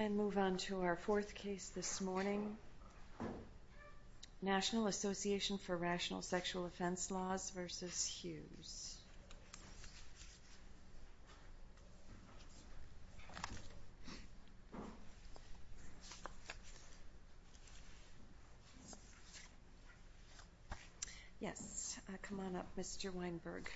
And move on to our fourth case this morning, National Association for Rational Sexual Offense Laws v. Hughes. Yes, come on up, Mr. Weinberg.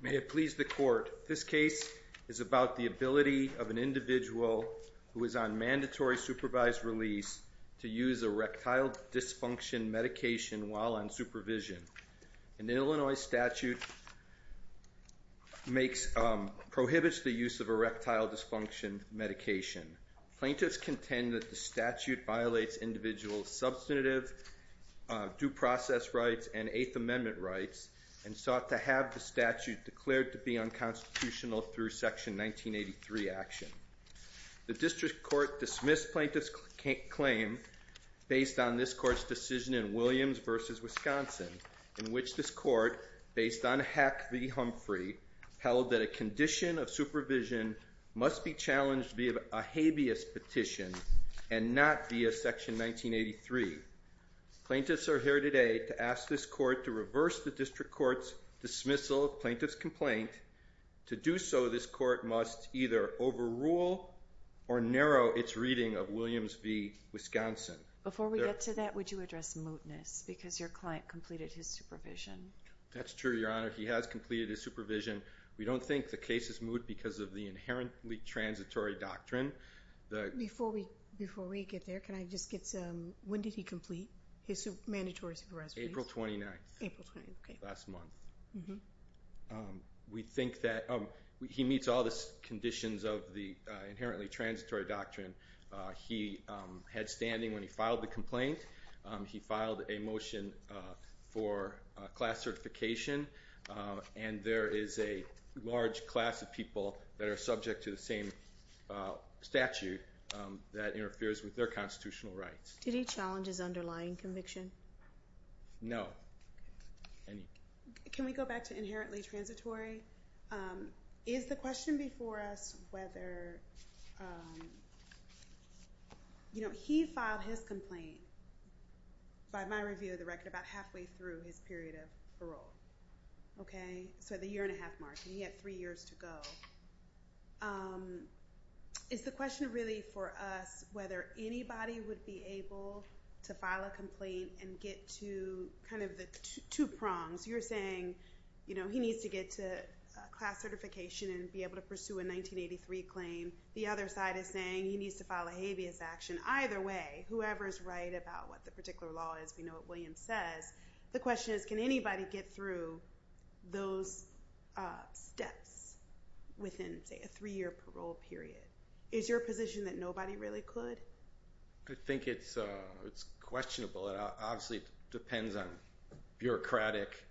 May it please the Court, this case is about the ability of an individual who is on mandatory supervised release to use erectile dysfunction medication while on supervision. An Illinois statute prohibits the use of erectile dysfunction medication. Plaintiffs contend that the statute violates individual's substantive due process rights and Eighth Amendment rights and sought to have the statute declared to be unconstitutional through Section 1983 action. The district court dismissed plaintiff's claim based on this court's decision in Williams v. Wisconsin in which this court, based on Hack v. Humphrey, held that a condition of supervision must be challenged via a habeas petition and not via Section 1983. Plaintiffs are here today to ask this court to reverse the district court's dismissal of plaintiff's complaint. To do so, this court must either overrule or narrow its reading of Williams v. Wisconsin. Before we get to that, would you address mootness because your client completed his supervision? That's true, Your Honor. He has completed his supervision. We don't think the case is moot because of the inherently transitory doctrine. Before we get there, when did he complete his mandatory supervision? April 29th, last month. He meets all the conditions of the inherently transitory doctrine. He had standing when he filed the complaint. He filed a motion for class certification, and there is a large class of people that are subject to the same statute that interferes with their constitutional rights. Did he challenge his underlying conviction? No. Can we go back to inherently transitory? Is the question before us whether he filed his complaint, by my review of the record, about halfway through his period of parole? Okay, so the year and a half mark, and he had three years to go. Is the question really for us whether anybody would be able to file a complaint and get to kind of the two prongs? You're saying he needs to get to class certification and be able to pursue a 1983 claim. The other side is saying he needs to file a habeas action. Either way, whoever is right about what the particular law is, we know what William says. The question is, can anybody get through those steps within, say, a three-year parole period? Is your position that nobody really could? I think it's questionable. It obviously depends on bureaucratic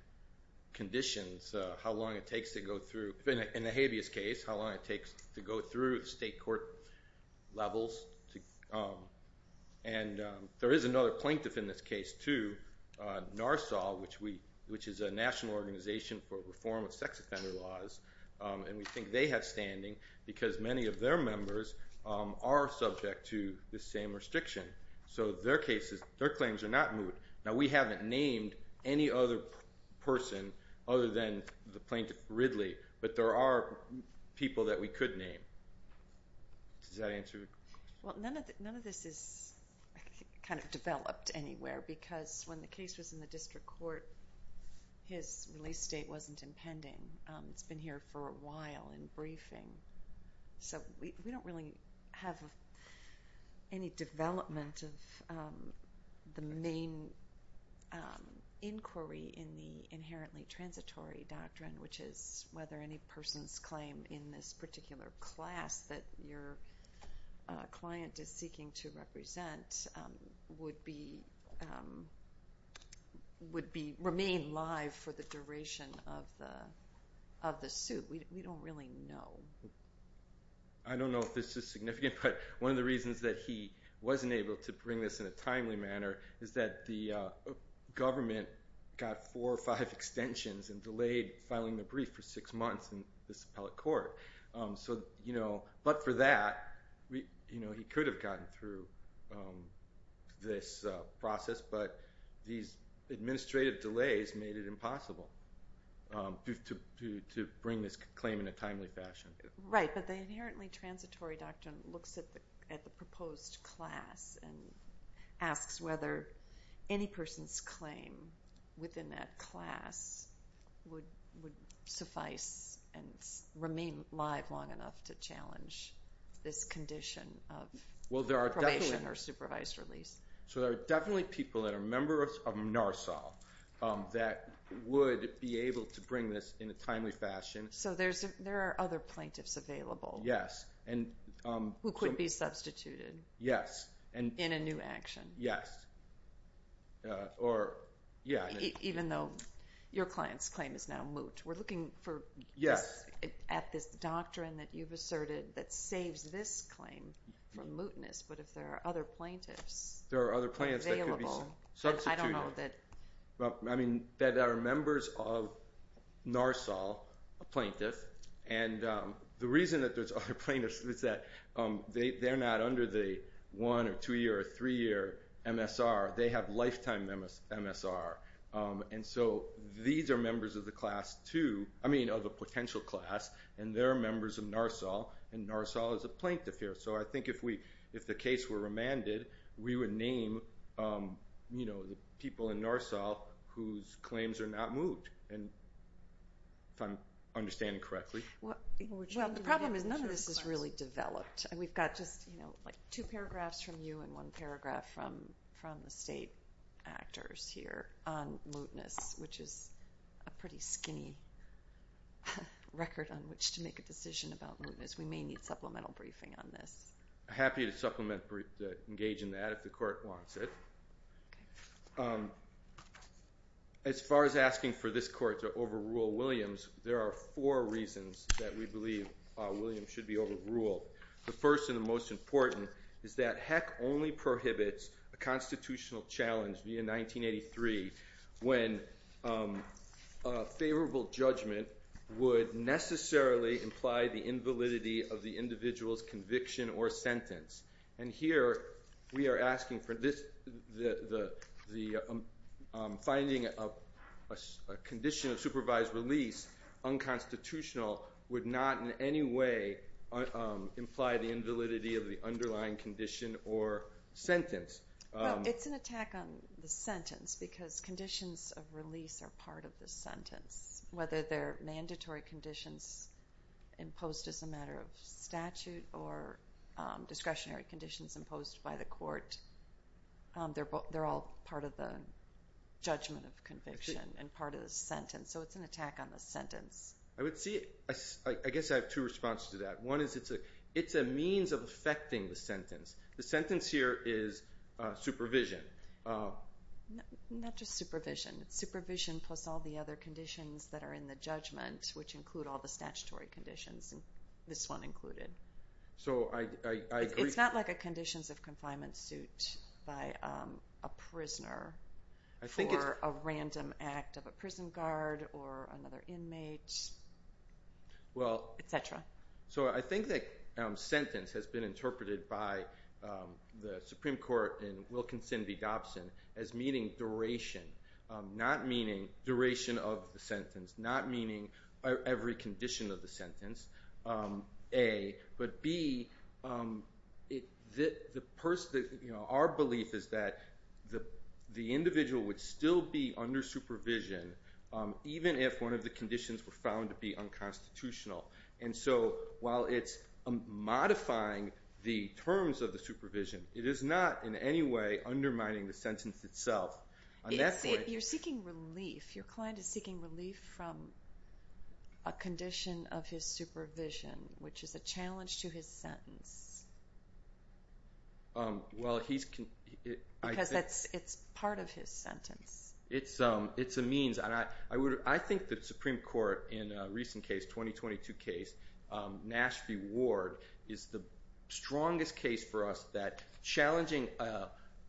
conditions, how long it takes to go through. In the habeas case, how long it takes to go through state court levels. And there is another plaintiff in this case, too, NARSAW, which is a national organization for reform of sex offender laws. And we think they have standing because many of their members are subject to the same restriction. So their claims are not moot. Now, we haven't named any other person other than the plaintiff Ridley, but there are people that we could name. Does that answer your question? Well, none of this is kind of developed anywhere because when the case was in the district court, his release date wasn't impending. It's been here for a while in briefing. So we don't really have any development of the main inquiry in the inherently transitory doctrine, which is whether any person's claim in this particular class that your client is seeking to represent would remain live for the duration of the suit. We don't really know. I don't know if this is significant, but one of the reasons that he wasn't able to bring this in a timely manner is that the government got four or five extensions and delayed filing the brief for six months in this appellate court. But for that, he could have gotten through this process, but these administrative delays made it impossible to bring this claim in a timely fashion. Right, but the inherently transitory doctrine looks at the proposed class and asks whether any person's claim within that class would suffice and remain live long enough to challenge this condition of probation or supervised release. So there are definitely people that are members of NARSOL that would be able to bring this in a timely fashion. So there are other plaintiffs available. Yes. Who could be substituted. Yes. In a new action. Yes. Even though your client's claim is now moot. We're looking at this doctrine that you've asserted that saves this claim from mootness, but if there are other plaintiffs available. There are other plaintiffs that could be substituted. I don't know that. I mean, there are members of NARSOL, a plaintiff, and the reason that there's other plaintiffs is that they're not under the one- or two-year or three-year MSR. They have lifetime MSR. And so these are members of the class two, I mean of a potential class, and they're members of NARSOL, and NARSOL is a plaintiff here. So I think if the case were remanded, we would name, you know, the people in NARSOL whose claims are not moot, if I'm understanding correctly. Well, the problem is none of this is really developed. We've got just, you know, like two paragraphs from you and one paragraph from the state actors here on mootness, which is a pretty skinny record on which to make a decision about mootness. We may need supplemental briefing on this. I'm happy to engage in that if the court wants it. As far as asking for this court to overrule Williams, there are four reasons that we believe Williams should be overruled. The first and the most important is that HEC only prohibits a constitutional challenge via 1983 when a favorable judgment would necessarily imply the invalidity of the individual's conviction or sentence. And here we are asking for this, finding a condition of supervised release unconstitutional would not in any way imply the invalidity of the underlying condition or sentence. Well, it's an attack on the sentence because conditions of release are part of the sentence. Whether they're mandatory conditions imposed as a matter of statute or discretionary conditions imposed by the court, they're all part of the judgment of conviction and part of the sentence. So it's an attack on the sentence. I guess I have two responses to that. One is it's a means of affecting the sentence. The sentence here is supervision. Not just supervision. It's supervision plus all the other conditions that are in the judgment, which include all the statutory conditions, and this one included. So I agree. It's not like a conditions of confinement suit by a prisoner for a random act of a prison guard or another inmate, et cetera. So I think that sentence has been interpreted by the Supreme Court in Wilkinson v. Dobson as meaning duration, not meaning duration of the sentence, not meaning every condition of the sentence, A. But, B, our belief is that the individual would still be under supervision even if one of the conditions were found to be unconstitutional. And so while it's modifying the terms of the supervision, it is not in any way undermining the sentence itself. You're seeking relief. Your client is seeking relief from a condition of his supervision, which is a challenge to his sentence. Because it's part of his sentence. It's a means. I think the Supreme Court in a recent case, a 2022 case, Nash v. Ward, is the strongest case for us that challenging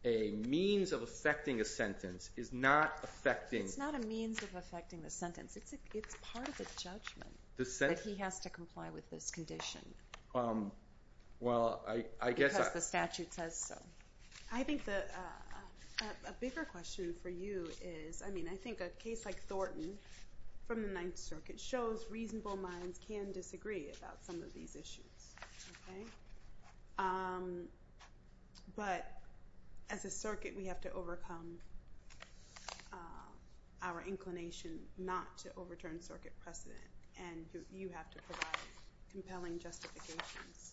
a means of effecting a sentence is not effecting. It's not a means of effecting the sentence. It's part of the judgment that he has to comply with this condition because the statute says so. I think a bigger question for you is, I mean, I think a case like Thornton from the Ninth Circuit shows reasonable minds can disagree about some of these issues. But as a circuit, we have to overcome our inclination not to overturn circuit precedent, and you have to provide compelling justifications.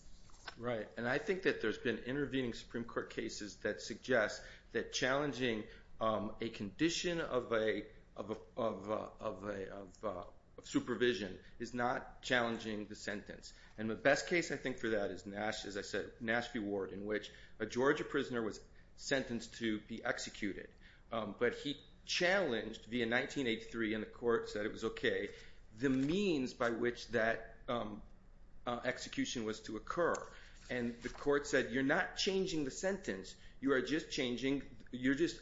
Right. And I think that there's been intervening Supreme Court cases that suggest that challenging a condition of supervision is not challenging the sentence. And the best case, I think, for that is Nash, as I said, Nash v. Ward, in which a Georgia prisoner was sentenced to be executed. But he challenged via 1983, and the court said it was okay, the means by which that execution was to occur. And the court said, you're not changing the sentence. You are just changing – you're just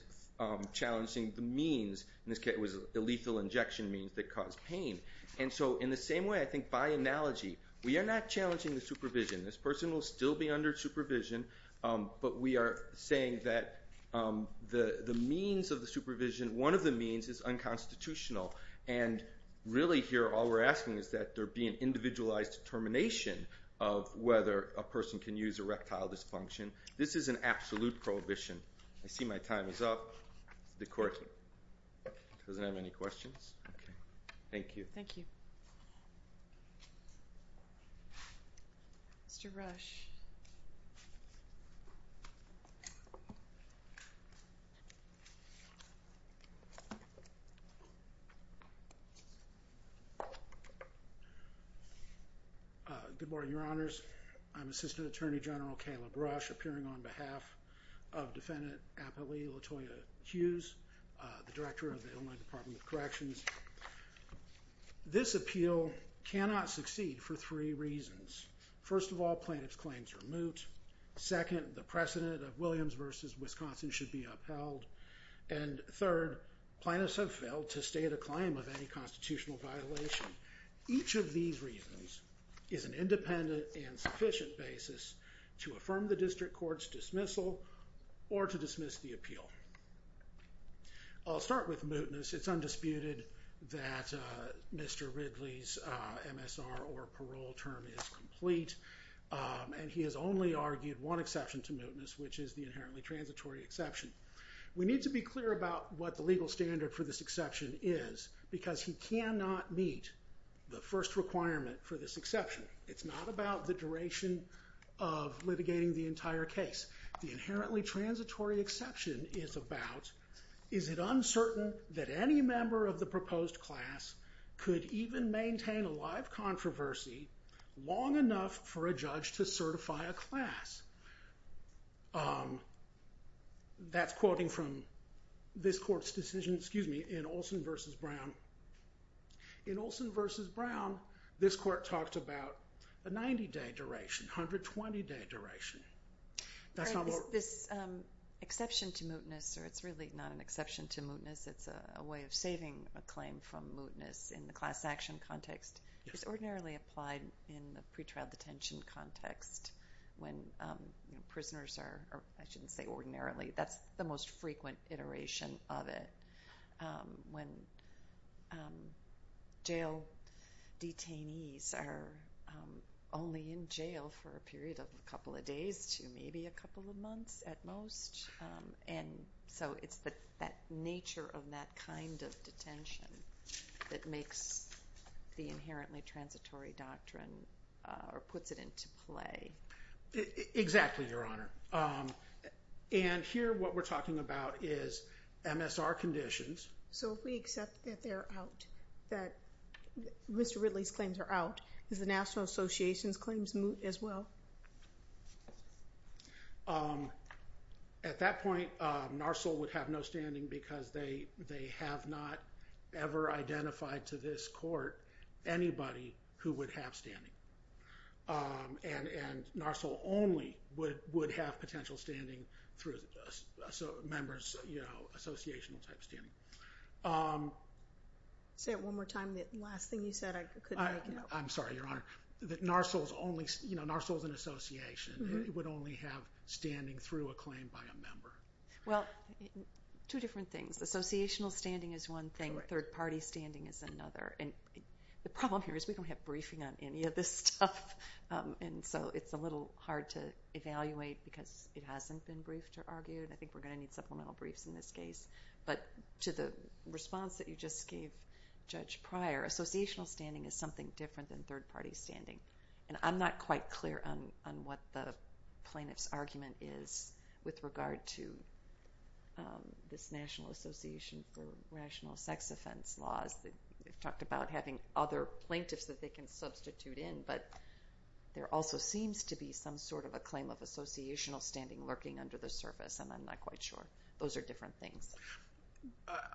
challenging the means. In this case, it was a lethal injection means that caused pain. And so in the same way, I think by analogy, we are not challenging the supervision. This person will still be under supervision, but we are saying that the means of the supervision, one of the means is unconstitutional. And really here, all we're asking is that there be an individualized determination of whether a person can use erectile dysfunction. This is an absolute prohibition. I see my time is up. The court doesn't have any questions. Okay. Thank you. Thank you. Mr. Rush. Good morning, Your Honors. I'm Assistant Attorney General Caleb Rush, appearing on behalf of Defendant Appellee Latoya Hughes, the Director of the Illinois Department of Corrections. This appeal cannot succeed for three reasons. First of all, plaintiff's claims are moot. Second, the precedent of Williams v. Wisconsin should be upheld. And third, plaintiffs have failed to stay at a claim of any constitutional violation. Each of these reasons is an independent and sufficient basis to affirm the district court's dismissal or to dismiss the appeal. I'll start with mootness. It's undisputed that Mr. Ridley's MSR or parole term is complete, and he has only argued one exception to mootness, which is the inherently transitory exception. We need to be clear about what the legal standard for this exception is because he cannot meet the first requirement for this exception. It's not about the duration of litigating the entire case. The inherently transitory exception is about is it uncertain that any member of the proposed class could even maintain a live controversy long enough for a judge to certify a class? That's quoting from this court's decision in Olson v. Brown. In Olson v. Brown, this court talked about a 90-day duration, 120-day duration. This exception to mootness, or it's really not an exception to mootness, it's a way of saving a claim from mootness in the class action context, is ordinarily applied in the pretrial detention context when prisoners are, I shouldn't say ordinarily, that's the most frequent iteration of it. When jail detainees are only in jail for a period of a couple of days to maybe a couple of months at most, and so it's that nature of that kind of detention that makes the inherently transitory doctrine or puts it into play. Exactly, Your Honor. And here what we're talking about is MSR conditions. So if we accept that they're out, that Mr. Ridley's claims are out, does the National Association's claims moot as well? At that point, NARSOL would have no standing because they have not ever identified to this court anybody who would have standing. And NARSOL only would have potential standing through members, you know, associational type standing. Say it one more time, the last thing you said I couldn't make it up. I'm sorry, Your Honor. That NARSOL's only, you know, NARSOL's an association. It would only have standing through a claim by a member. Well, two different things. Associational standing is one thing, third party standing is another. And the problem here is we don't have briefing on any of this stuff, and so it's a little hard to evaluate because it hasn't been briefed or argued. I think we're going to need supplemental briefs in this case. But to the response that you just gave, Judge Pryor, associational standing is something different than third party standing. And I'm not quite clear on what the plaintiff's argument is with regard to this National Association for Rational Sex Offense laws. You've talked about having other plaintiffs that they can substitute in, but there also seems to be some sort of a claim of associational standing lurking under the surface, and I'm not quite sure. Those are different things.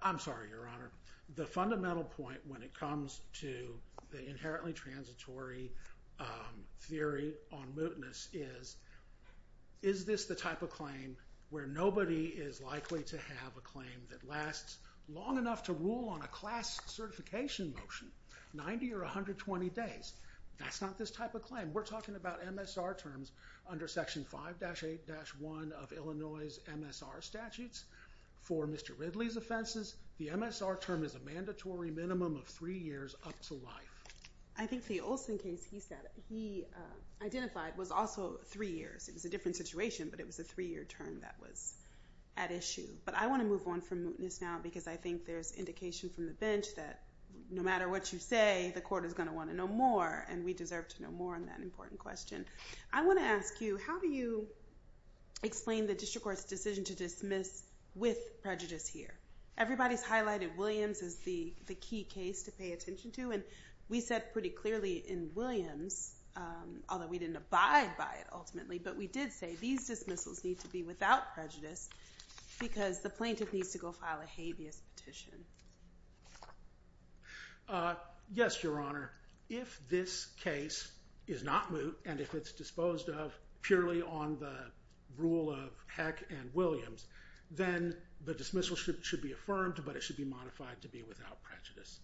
I'm sorry, Your Honor. The fundamental point when it comes to the inherently transitory theory on mootness is, is this the type of claim where nobody is likely to have a claim that lasts long enough to rule on a class certification motion, 90 or 120 days? That's not this type of claim. We're talking about MSR terms under Section 5-8-1 of Illinois' MSR statutes. For Mr. Ridley's offenses, the MSR term is a mandatory minimum of three years up to life. I think the Olson case he identified was also three years. It was a different situation, but it was a three-year term that was at issue. But I want to move on from mootness now because I think there's indication from the bench that no matter what you say, the court is going to want to know more, and we deserve to know more on that important question. I want to ask you, how do you explain the district court's decision to dismiss with prejudice here? Everybody's highlighted Williams as the key case to pay attention to, and we said pretty clearly in Williams, although we didn't abide by it ultimately, but we did say these dismissals need to be without prejudice because the plaintiff needs to go file a habeas petition. Yes, Your Honor. If this case is not moot and if it's disposed of purely on the rule of Heck and Williams, then the dismissal should be affirmed, but it should be modified to be without prejudice.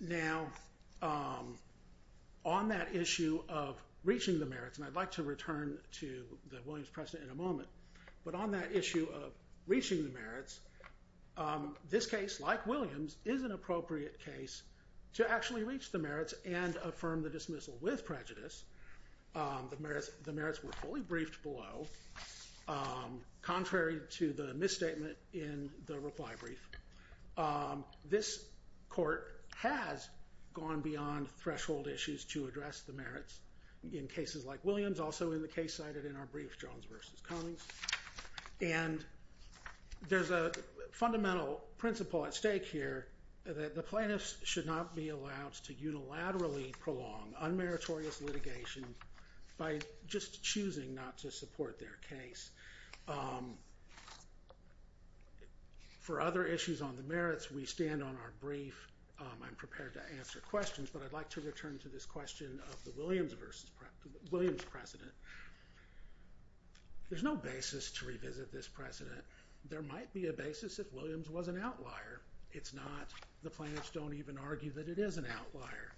Now, on that issue of reaching the merits, and I'd like to return to the Williams precedent in a moment, but on that issue of reaching the merits, this case, like Williams, is an appropriate case to actually reach the merits and affirm the dismissal with prejudice. The merits were fully briefed below, contrary to the misstatement in the reply brief. This court has gone beyond threshold issues to address the merits in cases like Williams, also in the case cited in our brief, Jones v. Cummings, and there's a fundamental principle at stake here that the plaintiffs should not be allowed to unilaterally prolong unmeritorious litigation by just choosing not to support their case. For other issues on the merits, we stand on our brief. I'm prepared to answer questions, but I'd like to return to this question of the Williams precedent. There's no basis to revisit this precedent. There might be a basis if Williams was an outlier. It's not. The plaintiffs don't even argue that it is an outlier.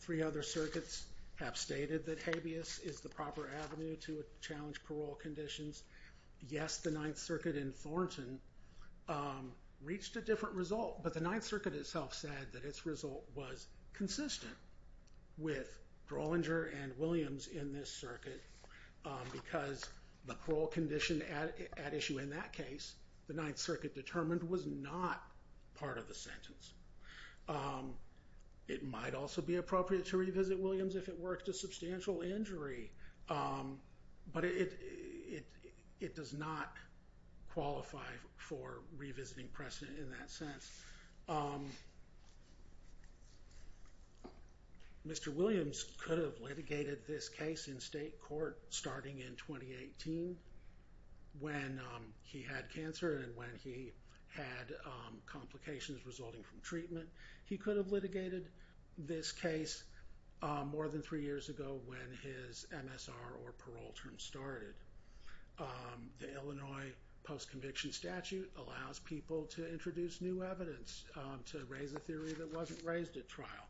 Three other circuits have stated that habeas is the proper avenue to challenge parole conditions. Yes, the Ninth Circuit in Thornton reached a different result, but the Ninth Circuit itself said that its result was consistent with Drollinger and Williams in this circuit because the parole condition at issue in that case, the Ninth Circuit determined, was not part of the sentence. It might also be appropriate to revisit Williams if it worked a substantial injury, but it does not qualify for revisiting precedent in that sense. Mr. Williams could have litigated this case in state court starting in 2018 when he had cancer and when he had complications resulting from treatment. He could have litigated this case more than three years ago when his MSR or parole term started. The Illinois post-conviction statute allows people to introduce new evidence, to raise a theory that wasn't raised at trial.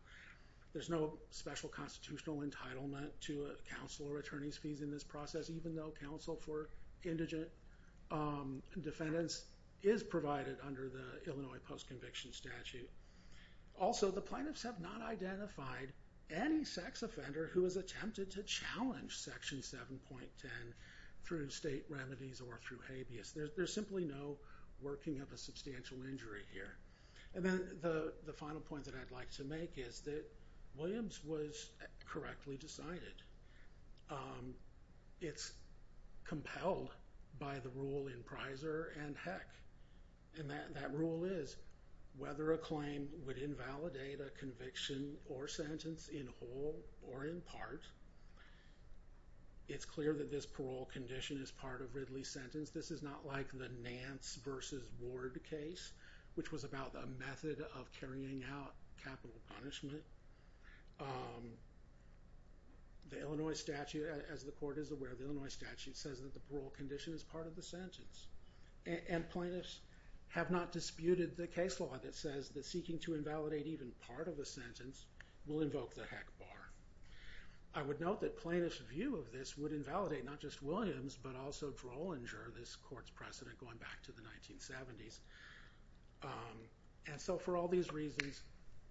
There's no special constitutional entitlement to counsel or attorney's fees in this process, even though counsel for indigent defendants is provided under the Illinois post-conviction statute. Also, the plaintiffs have not identified any sex offender who has attempted to challenge Section 7.10 through state remedies or through habeas. There's simply no working of a substantial injury here. And then the final point that I'd like to make is that Williams was correctly decided. It's compelled by the rule in Prisor and Heck. And that rule is, whether a claim would invalidate a conviction or sentence in whole or in part, it's clear that this parole condition is part of Ridley's sentence. This is not like the Nance v. Ward case, which was about the method of carrying out capital punishment. The Illinois statute, as the court is aware of the Illinois statute, says that the parole condition is part of the sentence. And plaintiffs have not disputed the case law that says that seeking to invalidate even part of a sentence will invoke the Heck bar. I would note that plaintiffs' view of this would invalidate not just Williams, but also Drollinger, this court's precedent going back to the 1970s. And so for all these reasons,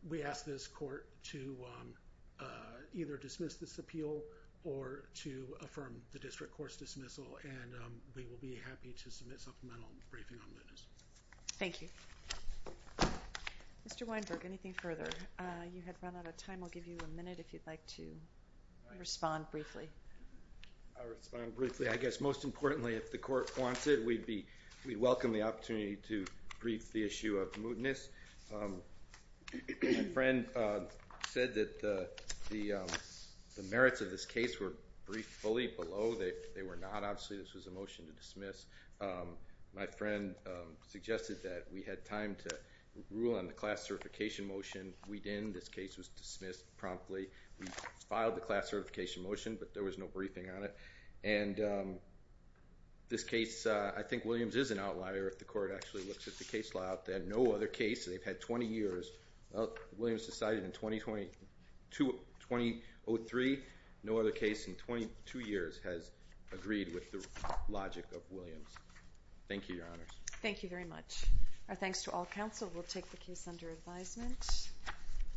we ask this court to either dismiss this appeal or to affirm the district court's dismissal. And we will be happy to submit supplemental briefing on witness. Thank you. Mr. Weinberg, anything further? You have run out of time. I'll give you a minute if you'd like to respond briefly. I'll respond briefly. I guess most importantly, if the court wants it, we'd welcome the opportunity to brief the issue of mootness. My friend said that the merits of this case were briefed fully below. They were not. Obviously, this was a motion to dismiss. My friend suggested that we had time to rule on the class certification motion. We didn't. This case was dismissed promptly. We filed the class certification motion, but there was no briefing on it. And this case, I think Williams is an outlier if the court actually looks at the case law. They had no other case. They've had 20 years. Williams decided in 2002, 2003, no other case in 22 years has agreed with the logic of Williams. Thank you, Your Honors. Thank you very much. Our thanks to all counsel. We'll take the case under advisement.